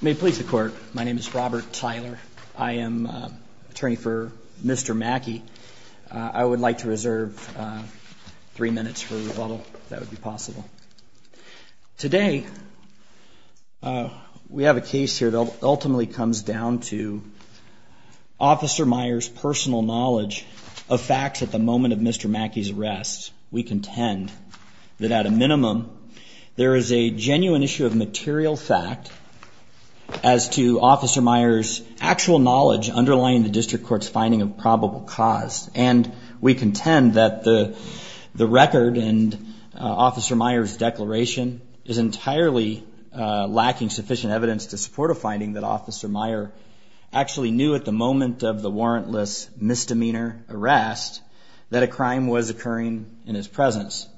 May it please the court, my name is Robert Tyler. I am attorney for Mr. Mackey. I would like to reserve three minutes for rebuttal if that would be possible. Today, we have a case here that ultimately comes down to Officer Meyer's personal knowledge of facts at the moment of Mr. Mackey's arrest. We contend that at a minimum, there is a genuine issue of material fact as to Officer Meyer's actual knowledge underlying the district court's finding of probable cause. And we contend that the record and Officer Meyer's declaration is entirely lacking sufficient evidence to support a finding that Officer Meyer actually knew at the moment of the warrantless misdemeanor arrest that a crime was occurring in his presence.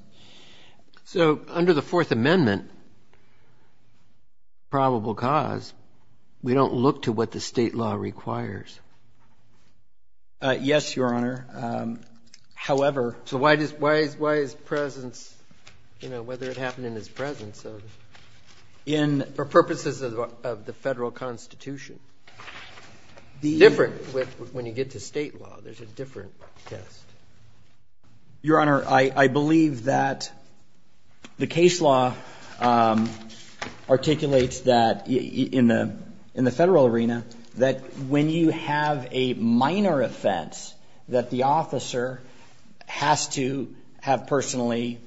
So under the Fourth Amendment, probable cause, we don't look to what the state law requires? Yes, Your Honor. However... So why is presence, you know, whether it happened in his presence? For purposes of the Federal Constitution. Different when you get to state law, there's a different test. Your Honor, I believe that the case law articulates that in the Federal arena, that when you have a minor offense, that the officer has to have personally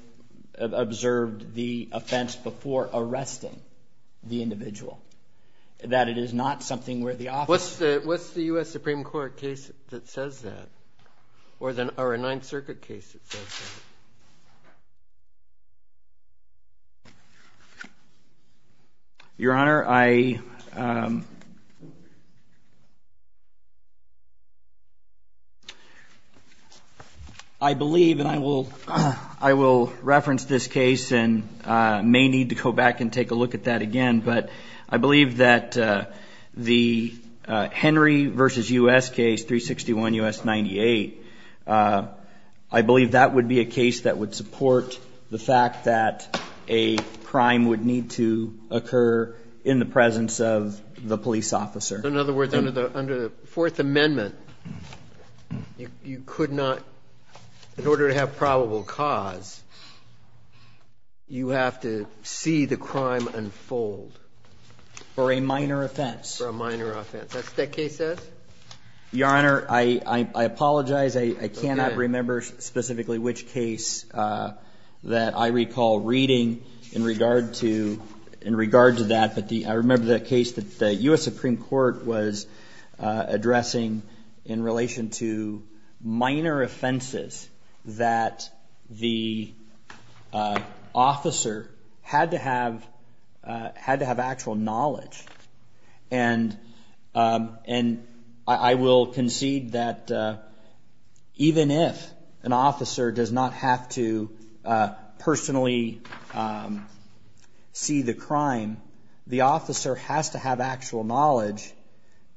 observed the offense before arresting the individual. That it is not something where the officer... What's the U.S. Supreme Court case that says that? Or a Ninth Circuit case that says that? Your Honor, I... I believe and I will reference this case and may need to go back and take a look at that again. But I believe that the Henry versus U.S. case 361 U.S. 98, I believe that would be a case that would support the fact that a crime would need to occur in the presence of the police officer. In other words, under the Fourth Amendment, you could not, in order to have probable cause, you have to see the crime unfold. For a minor offense. For a minor offense. That's what that case says? Your Honor, I apologize. I cannot remember specifically which case that I recall reading in regard to that. But I remember the case that the U.S. Supreme Court was addressing in relation to minor offenses that the officer had to have actual knowledge. And I will concede that even if an officer does not have to personally see the crime, the officer has to have actual knowledge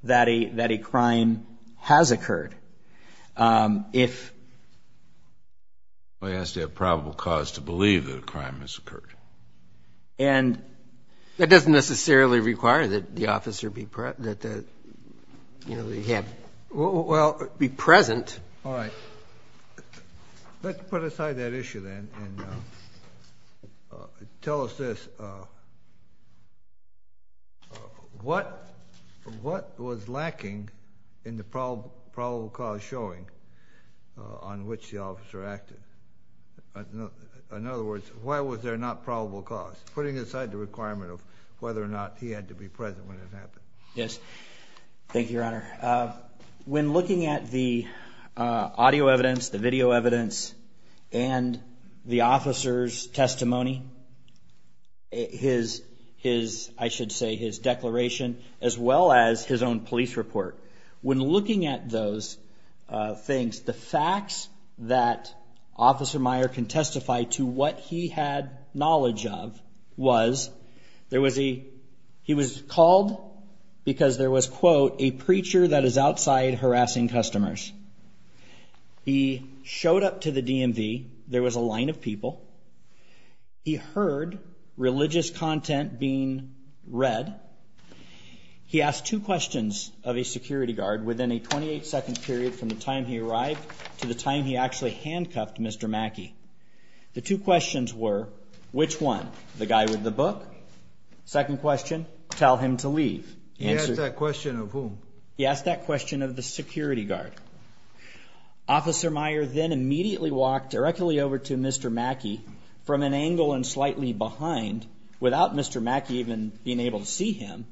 that a crime has occurred. If... Well, he has to have probable cause to believe that a crime has occurred. And that doesn't necessarily require that the officer be present. All right. Let's put aside that issue then and tell us this. What was lacking in the probable cause showing on which the officer acted? In other words, why was there not probable cause? Putting aside the requirement of whether or not he had to be present when it happened. Thank you, Your Honor. When looking at the audio evidence, the video evidence, and the officer's testimony, his, I should say, his declaration, as well as his own police report. When looking at those things, the facts that Officer Meyer can testify to what he had knowledge of was there was a... He was called because there was, quote, a preacher that is outside harassing customers. He showed up to the DMV. There was a line of people. He heard religious content being read. He asked two questions of a security guard within a 28-second period from the time he arrived to the time he actually handcuffed Mr. Mackey. The two questions were, which one? The guy with the book? Second question, tell him to leave. He asked that question of whom? He asked that question of the security guard. Officer Meyer then immediately walked directly over to Mr. Mackey from an angle and slightly behind, without Mr. Mackey even being able to see him,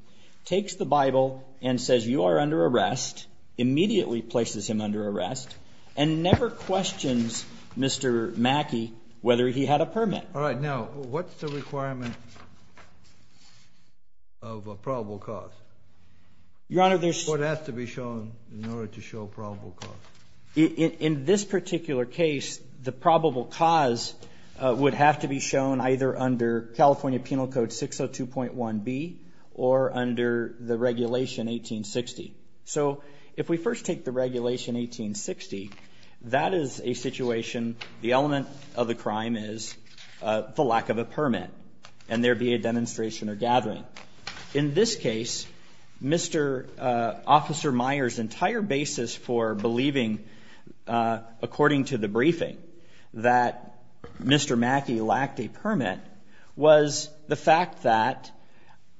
takes the Bible and says, you are under arrest, immediately places him under arrest, and never questions Mr. Mackey whether he had a permit. All right, now, what's the requirement of a probable cause? Your Honor, there's... What has to be shown in order to show probable cause? In this particular case, the probable cause would have to be shown either under California Penal Code 602.1b or under the regulation 1860. So if we first take the regulation 1860, that is a situation, the element of the crime is the lack of a permit and there be a demonstration or gathering. In this case, Mr. Officer Meyer's entire basis for believing, according to the briefing, that Mr. Mackey lacked a permit, was the fact that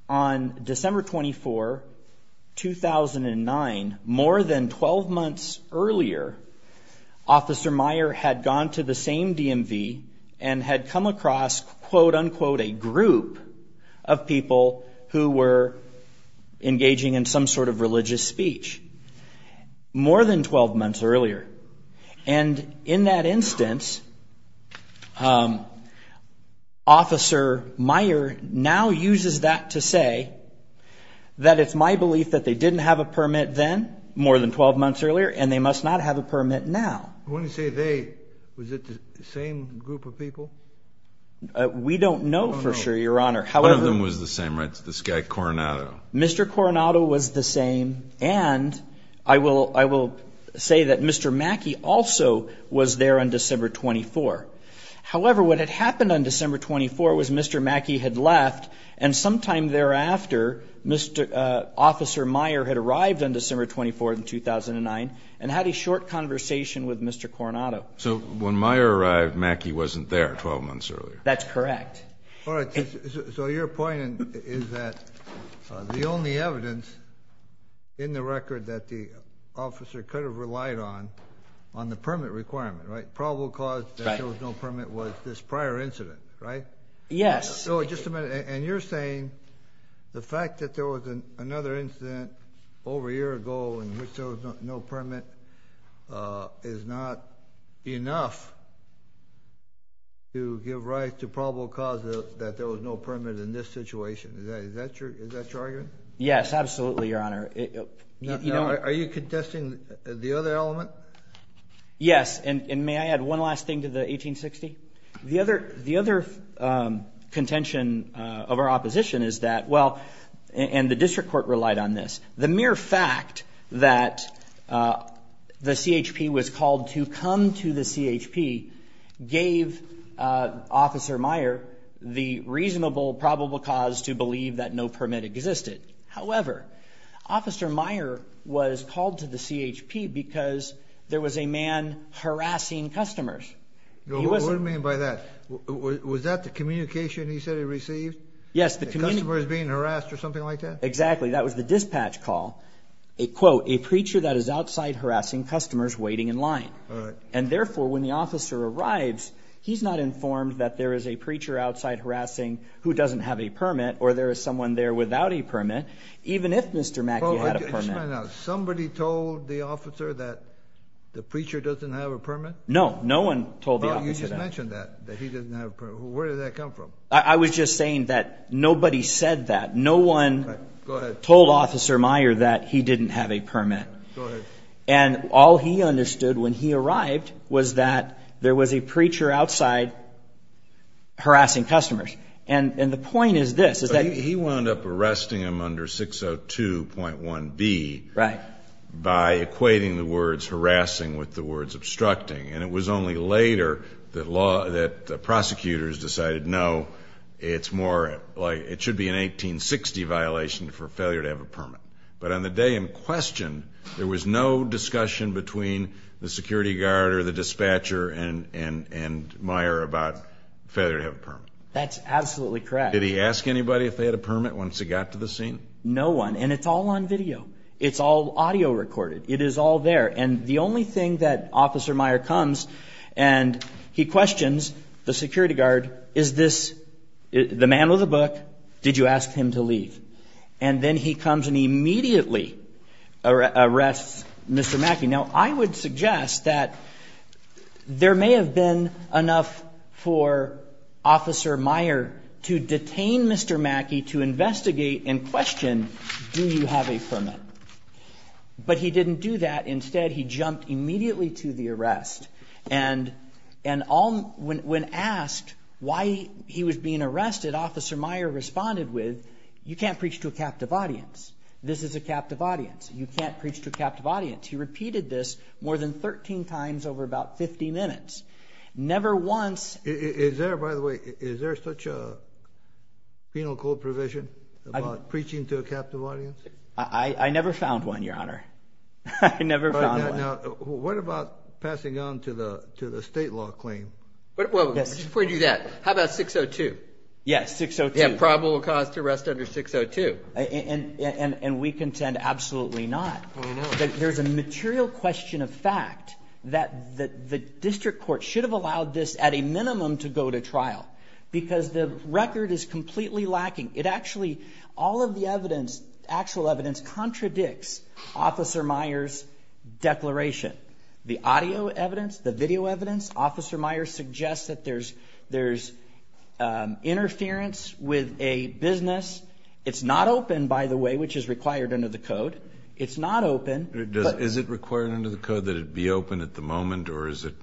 on December 24, 2009, more than 12 months earlier, Officer Meyer had gone to the same DMV and had come across, quote unquote, a group of people who were engaging in some sort of religious speech, more than 12 months earlier. And in that instance, Officer Meyer now uses that to say that it's my belief that they didn't have a permit then, more than 12 months earlier, and they must not have a permit now. When you say they, was it the same group of people? We don't know for sure, Your Honor. One of them was the same, right, this guy Coronado. Mr. Coronado was the same and I will say that Mr. Mackey also was there on December 24. However, what had happened on December 24 was Mr. Mackey had left and sometime thereafter, Officer Meyer had arrived on December 24, 2009, and had a short conversation with Mr. Coronado. So when Meyer arrived, Mackey wasn't there 12 months earlier? That's correct. All right, so your point is that the only evidence in the record that the officer could have relied on, on the permit requirement, right, probable cause that there was no permit was this prior incident, right? Yes. So just a minute, and you're saying the fact that there was another incident over a year ago in which there was no permit is not enough to give rise to probable cause that there was no permit in this situation. Is that your argument? Yes, absolutely, Your Honor. Are you contesting the other element? Yes, and may I add one last thing to the 1860? The other contention of our opposition is that, well, and the district court relied on this, the mere fact that the CHP was called to come to the CHP gave Officer Meyer the reasonable probable cause to believe that no permit existed. However, Officer Meyer was called to the CHP because there was a man harassing customers. What do you mean by that? Was that the communication he said he received? Yes, the communication. Customers being harassed or something like that? Exactly, that was the dispatch call. Quote, a preacher that is outside harassing customers waiting in line. All right. And therefore, when the officer arrives, he's not informed that there is a preacher outside harassing who doesn't have a permit or there is someone there without a permit, even if Mr. Mackey had a permit. Somebody told the officer that the preacher doesn't have a permit? No, no one told the officer that. You just mentioned that, that he doesn't have a permit. Where did that come from? I was just saying that nobody said that. No one told Officer Meyer that he didn't have a permit. Go ahead. And all he understood when he arrived was that there was a preacher outside harassing customers. And the point is this. He wound up arresting him under 602.1b by equating the words harassing with the words obstructing. And it was only later that prosecutors decided, no, it should be an 1860 violation for failure to have a permit. But on the day in question, there was no discussion between the security guard or the dispatcher and Meyer about failure to have a permit. That's absolutely correct. Did he ask anybody if they had a permit once he got to the scene? No one. And it's all on video. It's all audio recorded. It is all there. And the only thing that Officer Meyer comes and he questions the security guard, is this the man with the book? Did you ask him to leave? And then he comes and immediately arrests Mr. Mackey. Now, I would suggest that there may have been enough for Officer Meyer to detain Mr. Mackey to investigate and question, do you have a permit? But he didn't do that. Instead, he jumped immediately to the arrest. And when asked why he was being arrested, Officer Meyer responded with, you can't preach to a captive audience. This is a captive audience. You can't preach to a captive audience. He repeated this more than 13 times over about 50 minutes. Never once. Is there, by the way, is there such a penal code provision about preaching to a captive audience? I never found one, Your Honor. I never found one. What about passing on to the state law claim? Well, let me just point you to that. How about 602? Yes, 602. Yeah, probable cause to arrest under 602. And we contend absolutely not. There's a material question of fact that the district court should have allowed this at a minimum to go to trial because the record is completely lacking. It actually, all of the evidence, actual evidence, contradicts Officer Meyer's declaration. The audio evidence, the video evidence, Officer Meyer suggests that there's interference with a business. It's not open, by the way, which is required under the code. It's not open. Is it required under the code that it be open at the moment, or is it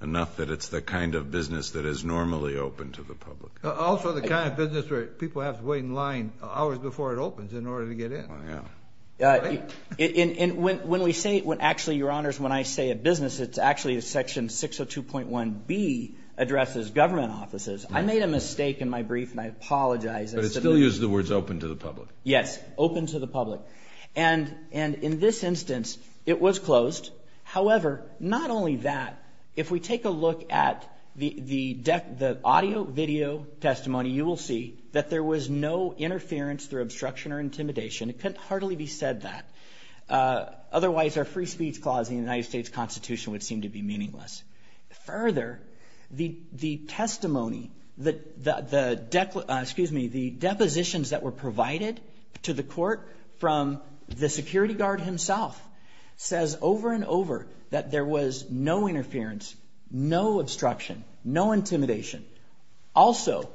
enough that it's the kind of business that is normally open to the public? Also the kind of business where people have to wait in line hours before it opens in order to get in. And when we say, actually, Your Honors, when I say a business, it's actually Section 602.1B addresses government offices. I made a mistake in my brief, and I apologize. But it still uses the words open to the public. Yes, open to the public. And in this instance, it was closed. However, not only that, if we take a look at the audio, video testimony, you will see that there was no interference through obstruction or intimidation. It couldn't hardly be said that. Otherwise, our free speech clause in the United States Constitution would seem to be meaningless. Further, the testimony, the depositions that were provided to the court from the security guard himself says over and over that there was no interference, no obstruction, no intimidation. Also,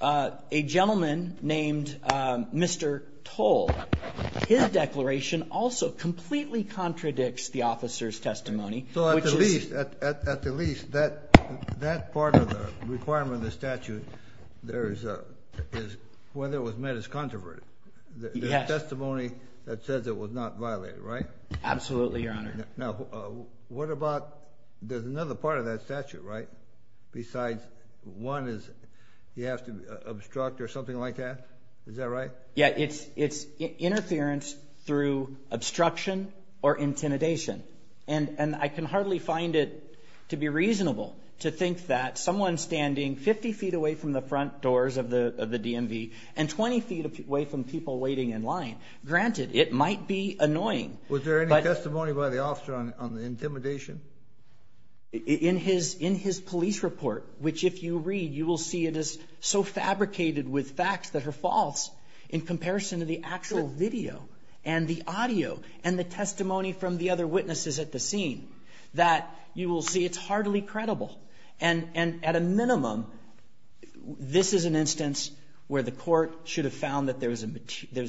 a gentleman named Mr. Toll, his declaration also completely contradicts the officer's testimony. So at the least, at the least, that part of the requirement of the statute is whether it was met as controverted. There's testimony that says it was not violated, right? Absolutely, Your Honor. Now, what about – there's another part of that statute, right? Besides one is you have to obstruct or something like that. Is that right? Yeah, it's interference through obstruction or intimidation. And I can hardly find it to be reasonable to think that someone standing 50 feet away from the front doors of the DMV and 20 feet away from people waiting in line – granted, it might be annoying. Was there any testimony by the officer on the intimidation? In his police report, which if you read, you will see it is so fabricated with facts that are false in comparison to the actual video and the audio and the testimony from the other witnesses at the scene, that you will see it's hardly credible. And at a minimum, this is an instance where the court should have found that there's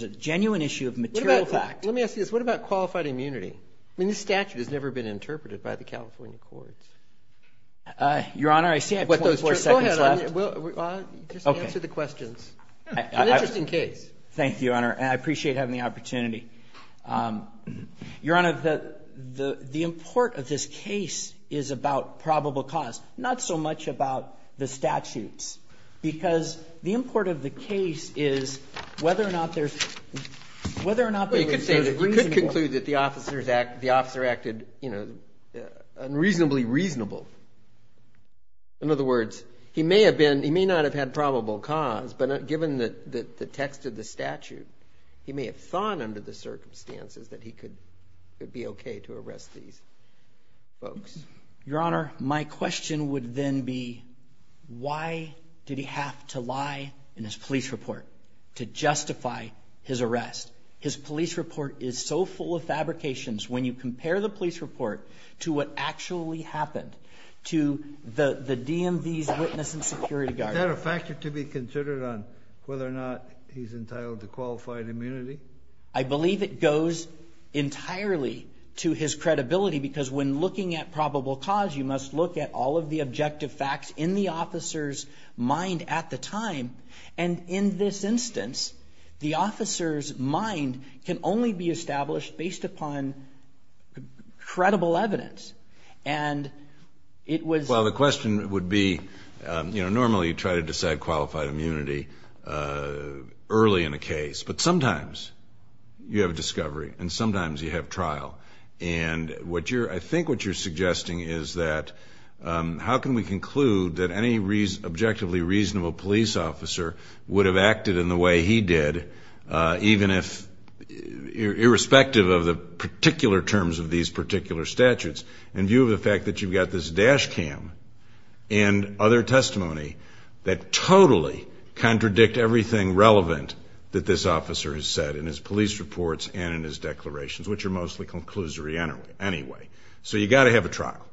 a genuine issue of material fact. Let me ask you this. What about qualified immunity? I mean, this statute has never been interpreted by the California courts. Your Honor, I see I have 24 seconds left. Go ahead. Just answer the questions. It's an interesting case. Thank you, Your Honor. And I appreciate having the opportunity. Your Honor, the import of this case is about probable cause, not so much about the statutes. Because the import of the case is whether or not there's – whether or not there's reasonable – whether or not the officer acted unreasonably reasonable. In other words, he may have been – he may not have had probable cause, but given the text of the statute, he may have thought under the circumstances that he could be okay to arrest these folks. Your Honor, my question would then be why did he have to lie in his police report to justify his arrest? His police report is so full of fabrications. When you compare the police report to what actually happened to the DMV's witness and security guard. Is that a factor to be considered on whether or not he's entitled to qualified immunity? I believe it goes entirely to his credibility because when looking at probable cause, you must look at all of the objective facts in the officer's mind at the time. And in this instance, the officer's mind can only be established based upon credible evidence. And it was – Well, the question would be, you know, normally you try to decide qualified immunity early in a case. But sometimes you have a discovery and sometimes you have trial. And what you're – I think what you're suggesting is that how can we conclude that any objectively reasonable police officer would have acted in the way he did, even if – irrespective of the particular terms of these particular statutes, in view of the fact that you've got this dash cam and other testimony that totally contradict everything relevant that this officer has said in his police reports and in his declarations, which are mostly conclusory anyway. So you've got to have a trial.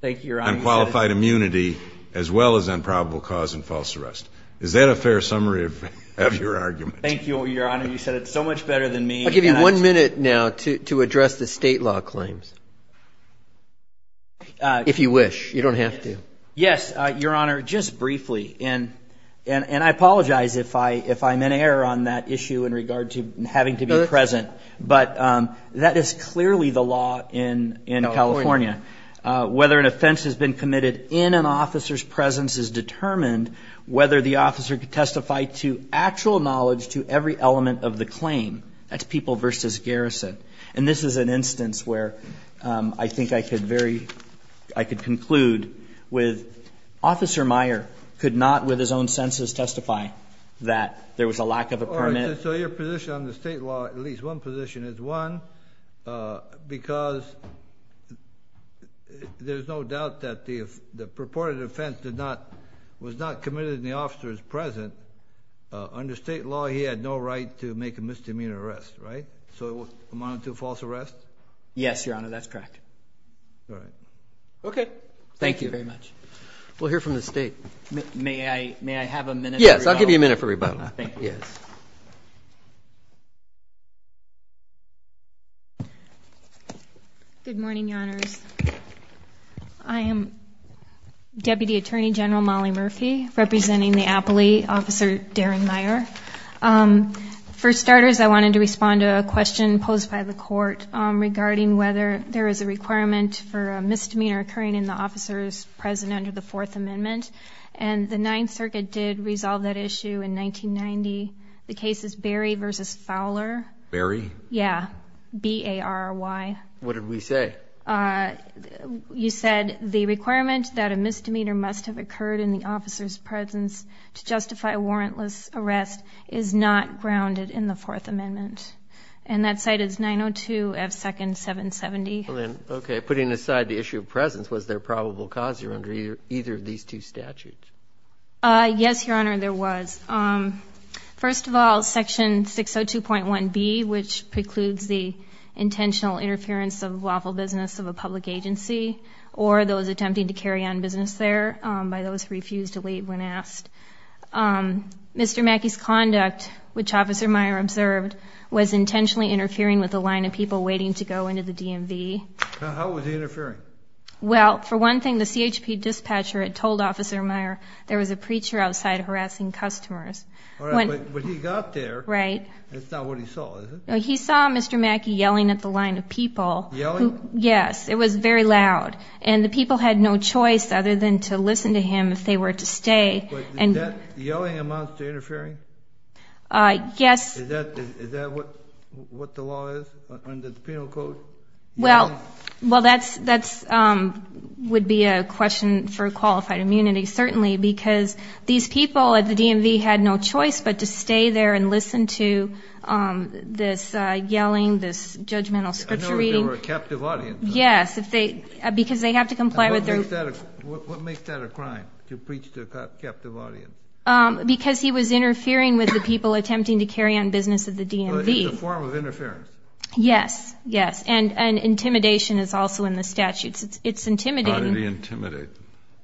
Thank you, Your Honor. On qualified immunity as well as on probable cause and false arrest. Is that a fair summary of your argument? Thank you, Your Honor. You said it so much better than me. I'll give you one minute now to address the state law claims, if you wish. You don't have to. Yes, Your Honor, just briefly. And I apologize if I'm in error on that issue in regard to having to be present. But that is clearly the law in California. Whether an offense has been committed in an officer's presence is determined whether the officer can testify to actual knowledge to every element of the claim. That's people versus garrison. And this is an instance where I think I could conclude with Officer Meyer could not with his own senses testify that there was a lack of a permit. So your position on the state law, at least one position is one, because there's no doubt that the purported offense was not committed in the officer's presence. Under state law, he had no right to make a misdemeanor arrest, right? So it would amount to a false arrest? Yes, Your Honor, that's correct. All right. Okay. Thank you very much. We'll hear from the state. May I have a minute for rebuttal? Yes, I'll give you a minute for rebuttal. Thank you. Yes. Good morning, Your Honors. I am Deputy Attorney General Molly Murphy, representing the appellee, Officer Darren Meyer. For starters, I wanted to respond to a question posed by the court regarding whether there is a requirement for a misdemeanor occurring in the officer's presence under the Fourth Amendment. And the Ninth Circuit did resolve that issue in 1990. The case is Barry v. Fowler. Barry? Yeah. B-A-R-R-Y. What did we say? You said the requirement that a misdemeanor must have occurred in the officer's presence to justify a warrantless arrest is not grounded in the Fourth Amendment. And that's cited as 902 F. 2nd. 770. Okay. Putting aside the issue of presence, was there probable cause here under either of these two statutes? Yes, Your Honor, there was. First of all, Section 602.1b, which precludes the intentional interference of lawful business of a public agency or those attempting to carry on business there by those who refused to leave when asked. Mr. Mackey's conduct, which Officer Meyer observed, was intentionally interfering with the line of people waiting to go into the DMV. How was he interfering? Well, for one thing, the CHP dispatcher had told Officer Meyer there was a preacher outside harassing customers. All right. But he got there. Right. That's not what he saw, is it? No, he saw Mr. Mackey yelling at the line of people. Yelling? Yes. It was very loud. And the people had no choice other than to listen to him if they were to stay. But does that yelling amount to interfering? Yes. Is that what the law is under the Penal Code? Well, that would be a question for qualified immunity, certainly, because these people at the DMV had no choice but to stay there and listen to this yelling, this judgmental scripturing. I know if they were a captive audience. Yes, because they have to comply with their ---- What makes that a crime, to preach to a captive audience? Because he was interfering with the people attempting to carry on business at the DMV. In the form of interference. Yes, yes. And intimidation is also in the statute. It's intimidating. How did he intimidate?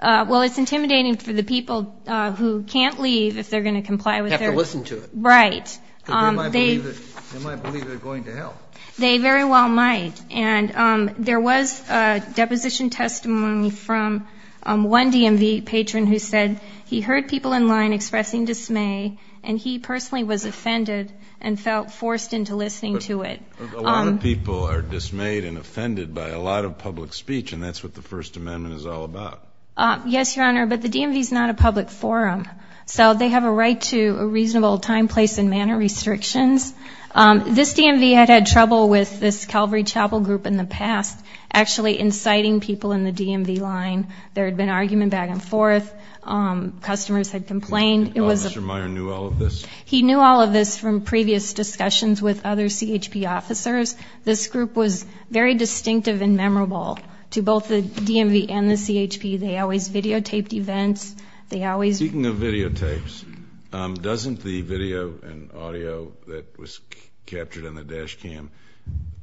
Well, it's intimidating for the people who can't leave if they're going to comply with their ---- Have to listen to it. Right. They might believe they're going to hell. They very well might. And there was a deposition testimony from one DMV patron who said he heard people in line expressing dismay, and he personally was offended and felt forced into listening to it. A lot of people are dismayed and offended by a lot of public speech, and that's what the First Amendment is all about. Yes, Your Honor, but the DMV is not a public forum, so they have a right to a reasonable time, place, and manner restrictions. This DMV had had trouble with this Calvary Chapel group in the past actually inciting people in the DMV line. There had been argument back and forth. Customers had complained. Mr. Meyer knew all of this? He knew all of this from previous discussions with other CHP officers. This group was very distinctive and memorable to both the DMV and the CHP. They always videotaped events. Speaking of videotapes, doesn't the video and audio that was captured on the dash cam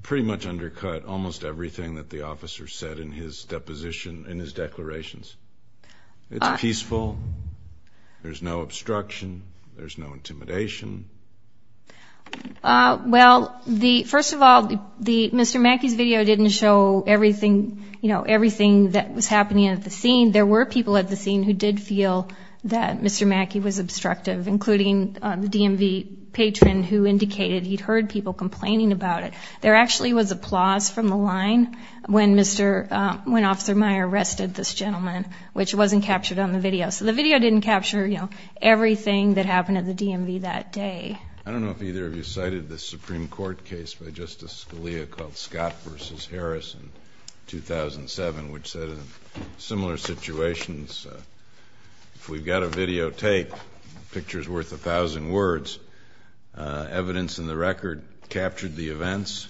pretty much undercut almost everything that the officer said in his deposition, in his declarations? It's peaceful. There's no obstruction. There's no intimidation. Well, first of all, Mr. Mackey's video didn't show everything that was happening at the scene. There were people at the scene who did feel that Mr. Mackey was obstructive, including the DMV patron who indicated he'd heard people complaining about it. There actually was applause from the line when Officer Meyer arrested this gentleman, which wasn't captured on the video. So the video didn't capture everything that happened at the DMV that day. I don't know if either of you cited the Supreme Court case by Justice Scalia called Scott v. Harris in 2007, which said in similar situations, if we've got a videotape, a picture's worth a thousand words. Evidence in the record captured the events.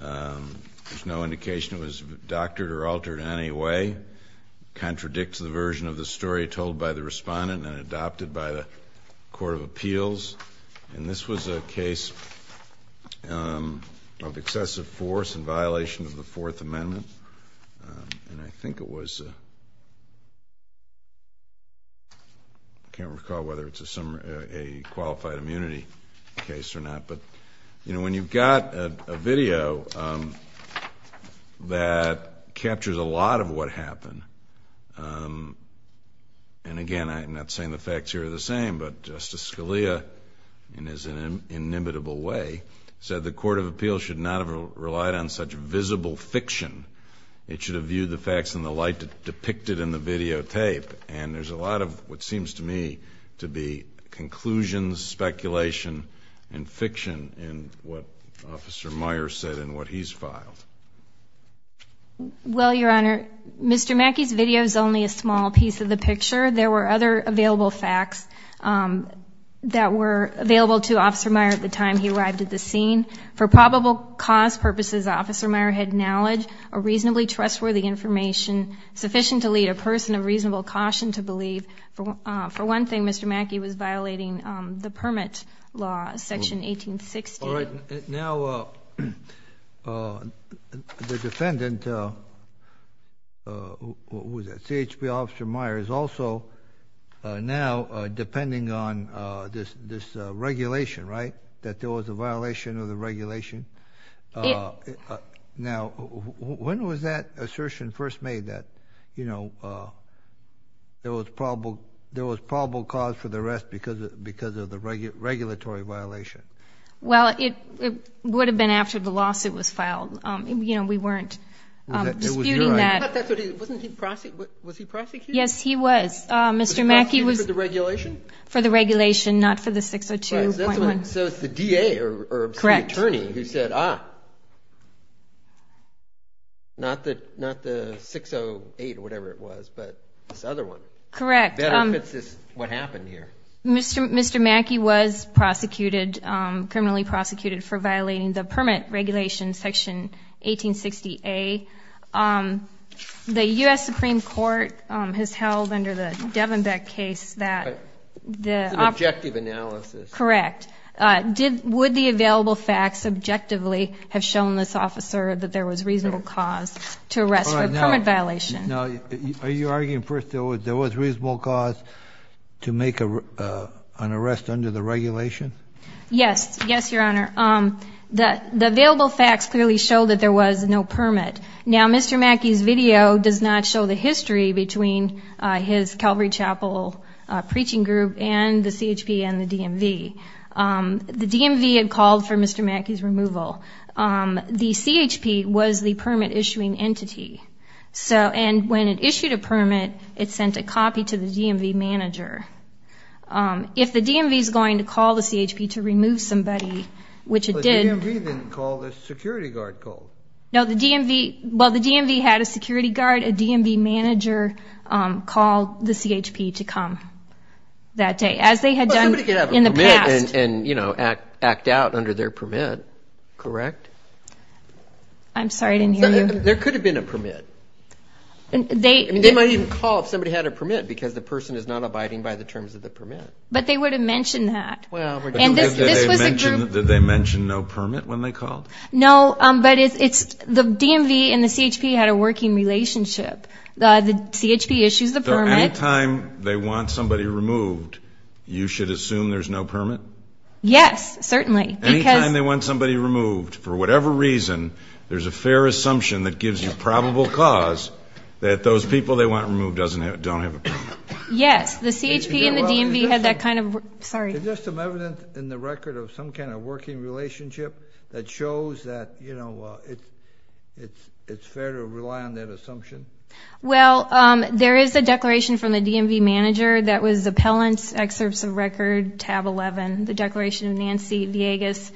There's no indication it was doctored or altered in any way. It contradicts the version of the story told by the respondent and adopted by the Court of Appeals. And this was a case of excessive force in violation of the Fourth Amendment. And I think it was, I can't recall whether it's a qualified immunity case or not. But, you know, when you've got a video that captures a lot of what happened, and again, I'm not saying the facts here are the same, but Justice Scalia, in his inimitable way, said the Court of Appeals should not have relied on such visible fiction. It should have viewed the facts in the light depicted in the videotape. And there's a lot of what seems to me to be conclusions, speculation, and fiction in what Officer Meyer said and what he's filed. Well, Your Honor, Mr. Mackey's video is only a small piece of the picture. There were other available facts that were available to Officer Meyer at the time he arrived at the scene. For probable cause purposes, Officer Meyer had knowledge of reasonably trustworthy information sufficient to lead a person of reasonable caution to believe, for one thing, Mr. Mackey was violating the permit law, Section 1860. All right. Now the defendant, who was that, CHP Officer Meyer, is also now depending on this regulation, right, that there was a violation of the regulation? Now, when was that assertion first made that, you know, there was probable cause for the arrest because of the regulatory violation? Well, it would have been after the lawsuit was filed. You know, we weren't disputing that. Wasn't he prosecuted? Yes, he was. Was he prosecuted for the regulation? For the regulation, not for the 602.1. So it's the DA or the attorney who said, ah, not the 608 or whatever it was, but this other one. Correct. Better if it's what happened here. Mr. Mackey was prosecuted, criminally prosecuted, for violating the permit regulation, Section 1860A. The U.S. Supreme Court has held under the Devenbeck case that the op- It's an objective analysis. Correct. Would the available facts objectively have shown this officer that there was reasonable cause to arrest for a permit violation? Now, are you arguing, first, there was reasonable cause to make an arrest under the regulation? Yes. Yes, Your Honor. The available facts clearly show that there was no permit. Now, Mr. Mackey's video does not show the history between his Calvary Chapel preaching group and the CHP and the DMV. The DMV had called for Mr. Mackey's removal. The CHP was the permit-issuing entity. And when it issued a permit, it sent a copy to the DMV manager. If the DMV is going to call the CHP to remove somebody, which it did- The DMV didn't call. The security guard called. No, the DMV- Well, the DMV had a security guard, a DMV manager, call the CHP to come that day, as they had done in the past. Well, somebody could have a permit and, you know, act out under their permit, correct? I'm sorry, I didn't hear you. There could have been a permit. They- I mean, they might even call if somebody had a permit because the person is not abiding by the terms of the permit. But they would have mentioned that. And this was a group- Did they mention no permit when they called? No, but it's the DMV and the CHP had a working relationship. The CHP issues the permit. So any time they want somebody removed, you should assume there's no permit? Yes, certainly, because- Any time they want somebody removed, for whatever reason, there's a fair assumption that gives you probable cause that those people they want removed don't have a permit. Yes, the CHP and the DMV had that kind of- Is there some evidence in the record of some kind of working relationship that shows that, you know, it's fair to rely on that assumption? Well, there is a declaration from the DMV manager that was appellant's excerpts of record, tab 11, the declaration of Nancy Villegas.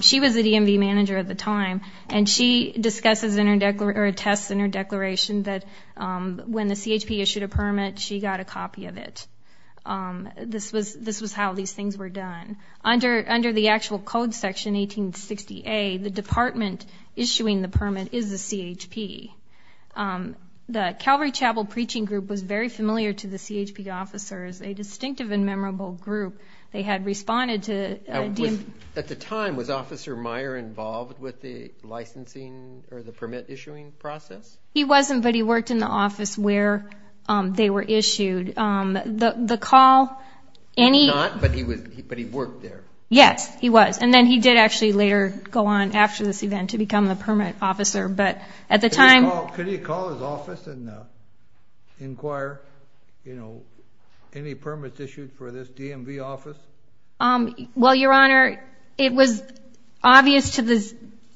She was the DMV manager at the time, and she discusses in her-or attests in her declaration that when the CHP issued a permit, she got a copy of it. This was how these things were done. Under the actual code section, 1860A, the department issuing the permit is the CHP. The Calvary Chapel Preaching Group was very familiar to the CHP officers, a distinctive and memorable group. They had responded to- At the time, was Officer Meyer involved with the licensing or the permit issuing process? He wasn't, but he worked in the office where they were issued. The call- He was not, but he worked there. Yes, he was. And then he did actually later go on after this event to become the permit officer. But at the time- Could he call his office and inquire, you know, any permits issued for this DMV office? Well, Your Honor, it was obvious to the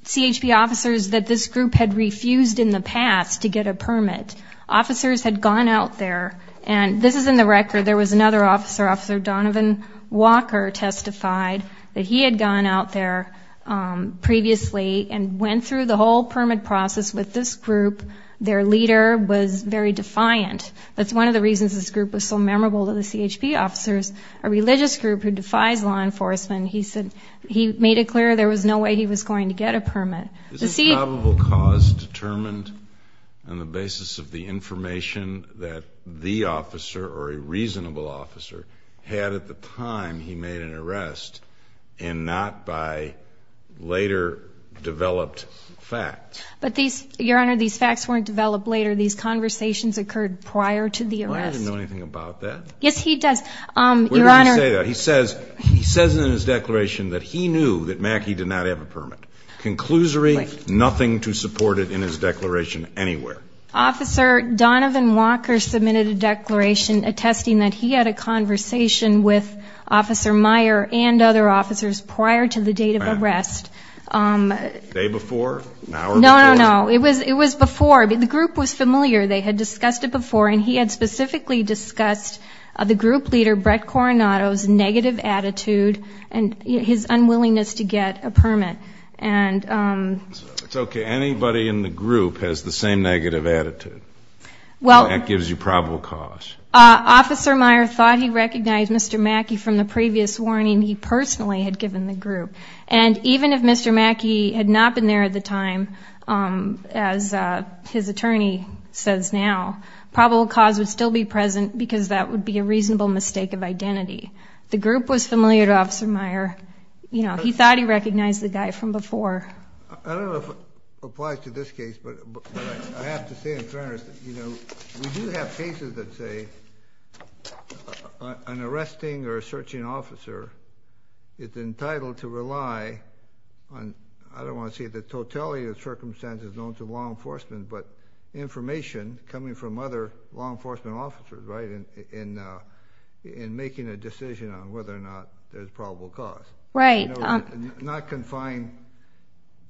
CHP officers that this group had refused in the past to get a permit. Officers had gone out there, and this is in the record. There was another officer, Officer Donovan Walker, testified that he had gone out there previously and went through the whole permit process with this group. Their leader was very defiant. That's one of the reasons this group was so memorable to the CHP officers, a religious group who defies law enforcement. He said he made it clear there was no way he was going to get a permit. Is this probable cause determined on the basis of the information that the officer or a reasonable officer had at the time he made an arrest and not by later developed facts? But, Your Honor, these facts weren't developed later. These conversations occurred prior to the arrest. Well, I didn't know anything about that. Yes, he does, Your Honor. Where did he say that? He says in his declaration that he knew that Mackey did not have a permit. Conclusory, nothing to support it in his declaration anywhere. Officer Donovan Walker submitted a declaration attesting that he had a conversation with Officer Meyer and other officers prior to the date of arrest. The day before, now or before? No, no, no. It was before. The group was familiar. They had discussed it before, and he had specifically discussed the group leader, Brett Coronado's negative attitude and his unwillingness to get a permit. It's okay. Anybody in the group has the same negative attitude. That gives you probable cause. Officer Meyer thought he recognized Mr. Mackey from the previous warning he personally had given the group. And even if Mr. Mackey had not been there at the time, as his attorney says now, probable cause would still be present because that would be a reasonable mistake of identity. The group was familiar to Officer Meyer. He thought he recognized the guy from before. I don't know if it applies to this case, but I have to say in fairness, we do have cases that say an arresting or a searching officer is entitled to rely on, I don't want to say the totality of circumstances known to law enforcement, but information coming from other law enforcement officers, right, in making a decision on whether or not there's probable cause. Right. Not confined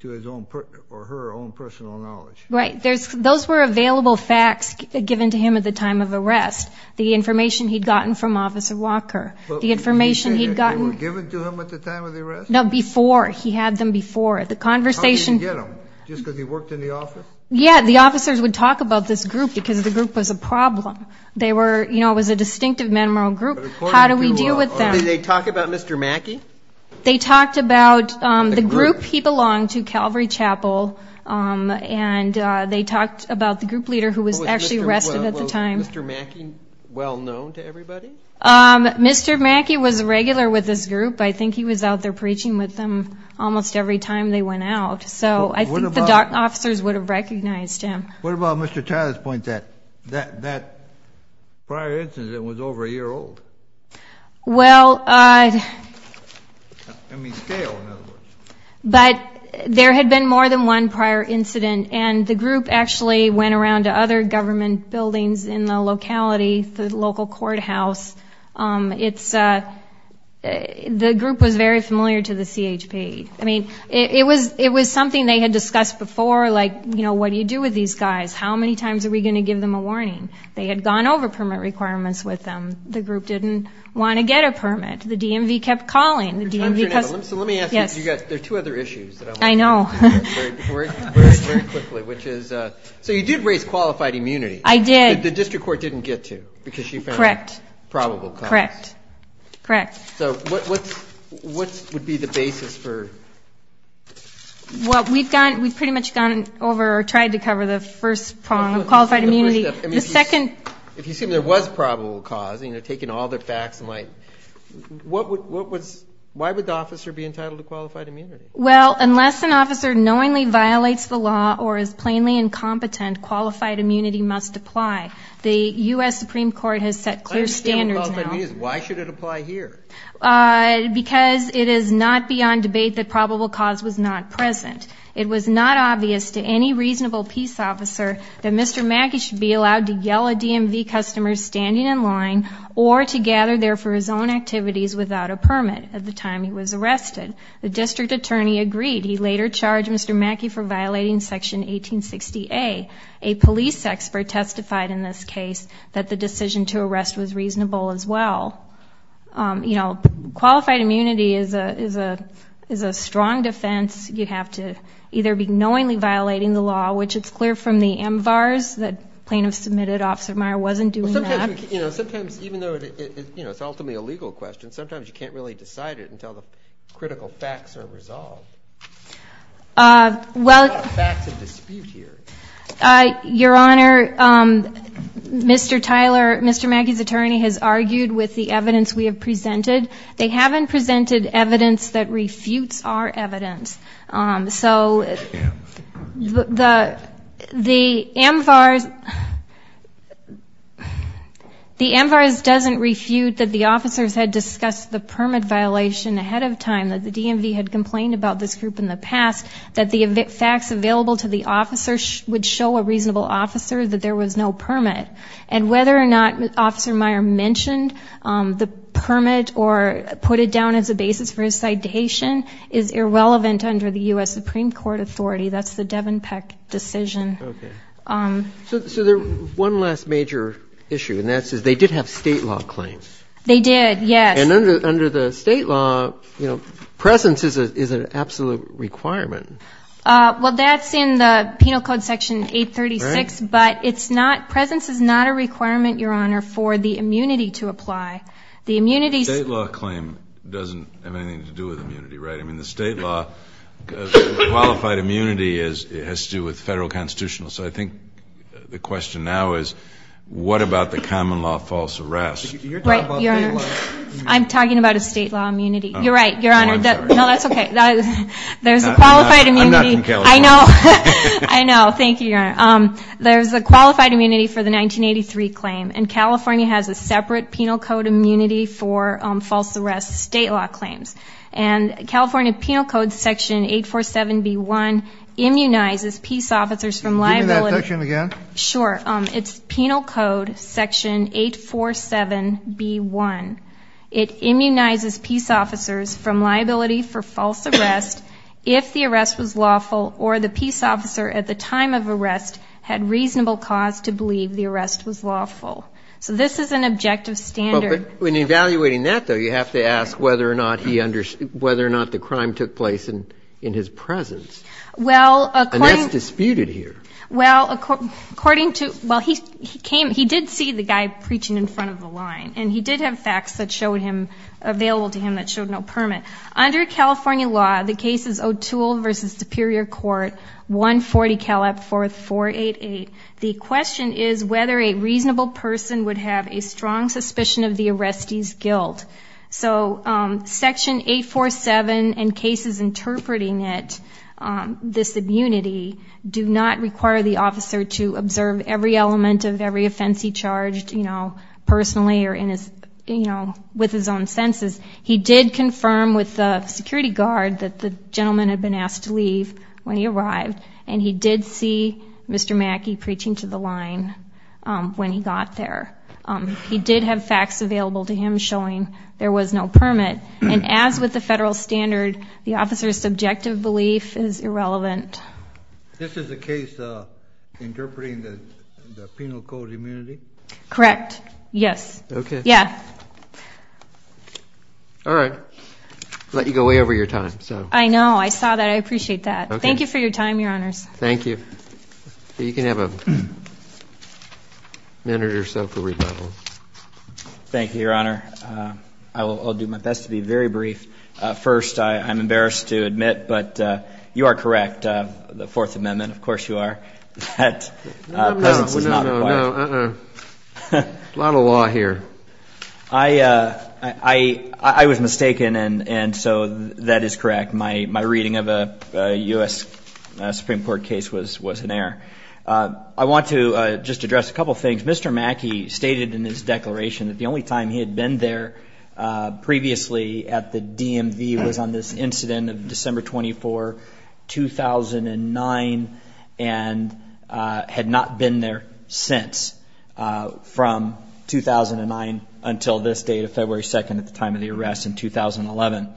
to his own or her own personal knowledge. Right. Those were available facts given to him at the time of arrest, the information he'd gotten from Officer Walker. The information he'd gotten. They were given to him at the time of the arrest? No, before. He had them before. The conversation. How did he get them? Just because he worked in the office? Yeah. The officers would talk about this group because the group was a problem. They were, you know, it was a distinctive memorial group. How do we deal with that? Did they talk about Mr. Mackey? They talked about the group. He belonged to Calvary Chapel. And they talked about the group leader who was actually arrested at the time. Was Mr. Mackey well known to everybody? Mr. Mackey was regular with this group. I think he was out there preaching with them almost every time they went out. So I think the officers would have recognized him. What about Mr. Tyler's point, that prior incident was over a year old? Well, there had been more than one prior incident, and the group actually went around to other government buildings in the locality, the local courthouse. The group was very familiar to the CHP. I mean, it was something they had discussed before, like, you know, what do you do with these guys? How many times are we going to give them a warning? They had gone over permit requirements with them. The group didn't want to get a permit. The DMV kept calling. So let me ask you, there are two other issues. I know. So you did raise qualified immunity. The district court didn't get to because she found probable cause. Correct. So what would be the basis for? Well, we've pretty much gone over or tried to cover the first prong of qualified immunity. If you assume there was probable cause, you know, taking all the facts, why would the officer be entitled to qualified immunity? Well, unless an officer knowingly violates the law or is plainly incompetent, qualified immunity must apply. The U.S. Supreme Court has set clear standards now. Why should it apply here? Because it is not beyond debate that probable cause was not present. It was not obvious to any reasonable peace officer that Mr. Mackey should be allowed to yell at DMV customers standing in line or to gather there for his own activities without a permit at the time he was arrested. The district attorney agreed. He later charged Mr. Mackey for violating Section 1860A. A police expert testified in this case that the decision to arrest was reasonable as well. You know, qualified immunity is a strong defense. You have to either be knowingly violating the law, which it's clear from the MVARS that plaintiff submitted Officer Meyer wasn't doing that. Sometimes, even though it's ultimately a legal question, sometimes you can't really decide it until the critical facts are resolved. Well, Your Honor, Mr. Tyler, Mr. Mackey's attorney has argued with the evidence we have presented. They haven't presented evidence that refutes our evidence. So the MVARS doesn't refute that the officers had discussed the permit violation ahead of time, that the DMV had complained about this group in the past, that the facts available to the officers would show a reasonable officer that there was no permit. And whether or not Officer Meyer mentioned the permit or put it down as a basis for his citation is irrelevant under the U.S. Supreme Court authority. That's the Devon Peck decision. So one last major issue, and that is they did have state law claims. They did, yes. And under the state law, you know, presence is an absolute requirement. Well, that's in the Penal Code Section 836, but it's not – presence is not a requirement, Your Honor, for the immunity to apply. The immunity – State law claim doesn't have anything to do with immunity, right? I mean, the state law, qualified immunity has to do with federal constitutional. So I think the question now is what about the common law false arrest? I'm talking about a state law immunity. You're right, Your Honor. Oh, I'm sorry. No, that's okay. There's a qualified immunity. I'm not from California. I know. I know. Thank you, Your Honor. There's a qualified immunity for the 1983 claim, and California has a separate Penal Code immunity for false arrest state law claims. And California Penal Code Section 847B1 immunizes peace officers from liability. Give me that section again. Sure. It's Penal Code Section 847B1. It immunizes peace officers from liability for false arrest if the arrest was lawful or the peace officer at the time of arrest had reasonable cause to believe the arrest was lawful. So this is an objective standard. When evaluating that, though, you have to ask whether or not he – whether or not the crime took place in his presence. Well, according – And that's disputed here. Well, according to – well, he came – he did see the guy preaching in front of the line, and he did have facts that showed him – available to him that showed no permit. Under California law, the case is O'Toole v. Superior Court, 140 Caleb 4488. The question is whether a reasonable person would have a strong suspicion of the arrestee's guilt. So Section 847 and cases interpreting it, this immunity, do not require the officer to observe every element of every offense he charged, you know, personally or in his – you know, with his own senses. He did confirm with the security guard that the gentleman had been asked to leave when he arrived, and he did see Mr. Mackey preaching to the line when he got there. He did have facts available to him showing there was no permit. And as with the federal standard, the officer's subjective belief is irrelevant. This is a case interpreting the penal code immunity? Correct, yes. Okay. Yeah. All right. Let you go way over your time, so. I know. I saw that. I appreciate that. Thank you for your time, Your Honors. Thank you. You can have a minute or so for rebuttal. Thank you, Your Honor. I'll do my best to be very brief. First, I'm embarrassed to admit, but you are correct. The Fourth Amendment, of course you are, that presence is not required. No, no, no. A lot of law here. I was mistaken, and so that is correct. My reading of a U.S. Supreme Court case was in error. I want to just address a couple of things. Mr. Mackey stated in his declaration that the only time he had been there previously at the DMV was on this incident of December 24, 2009, and had not been there since from 2009 until this date of February 2nd at the time of the arrest in 2011.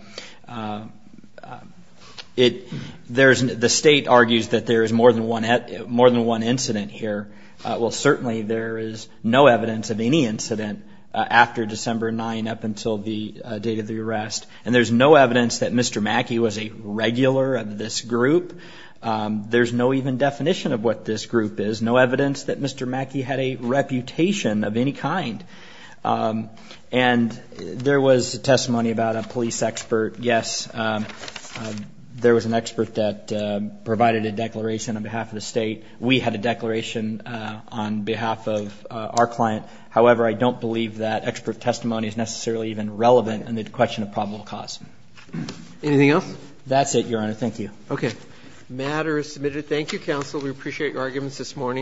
The state argues that there is more than one incident here. Well, certainly there is no evidence of any incident after December 9 up until the date of the arrest, and there's no evidence that Mr. Mackey was a regular of this group. There's no even definition of what this group is. No evidence that Mr. Mackey had a reputation of any kind. And there was testimony about a police expert. Yes, there was an expert that provided a declaration on behalf of the state. We had a declaration on behalf of our client. However, I don't believe that expert testimony is necessarily even relevant in the question of probable cause. Anything else? That's it, Your Honor. Thank you. Okay. Matter is submitted. Thank you, counsel. We appreciate your arguments this morning.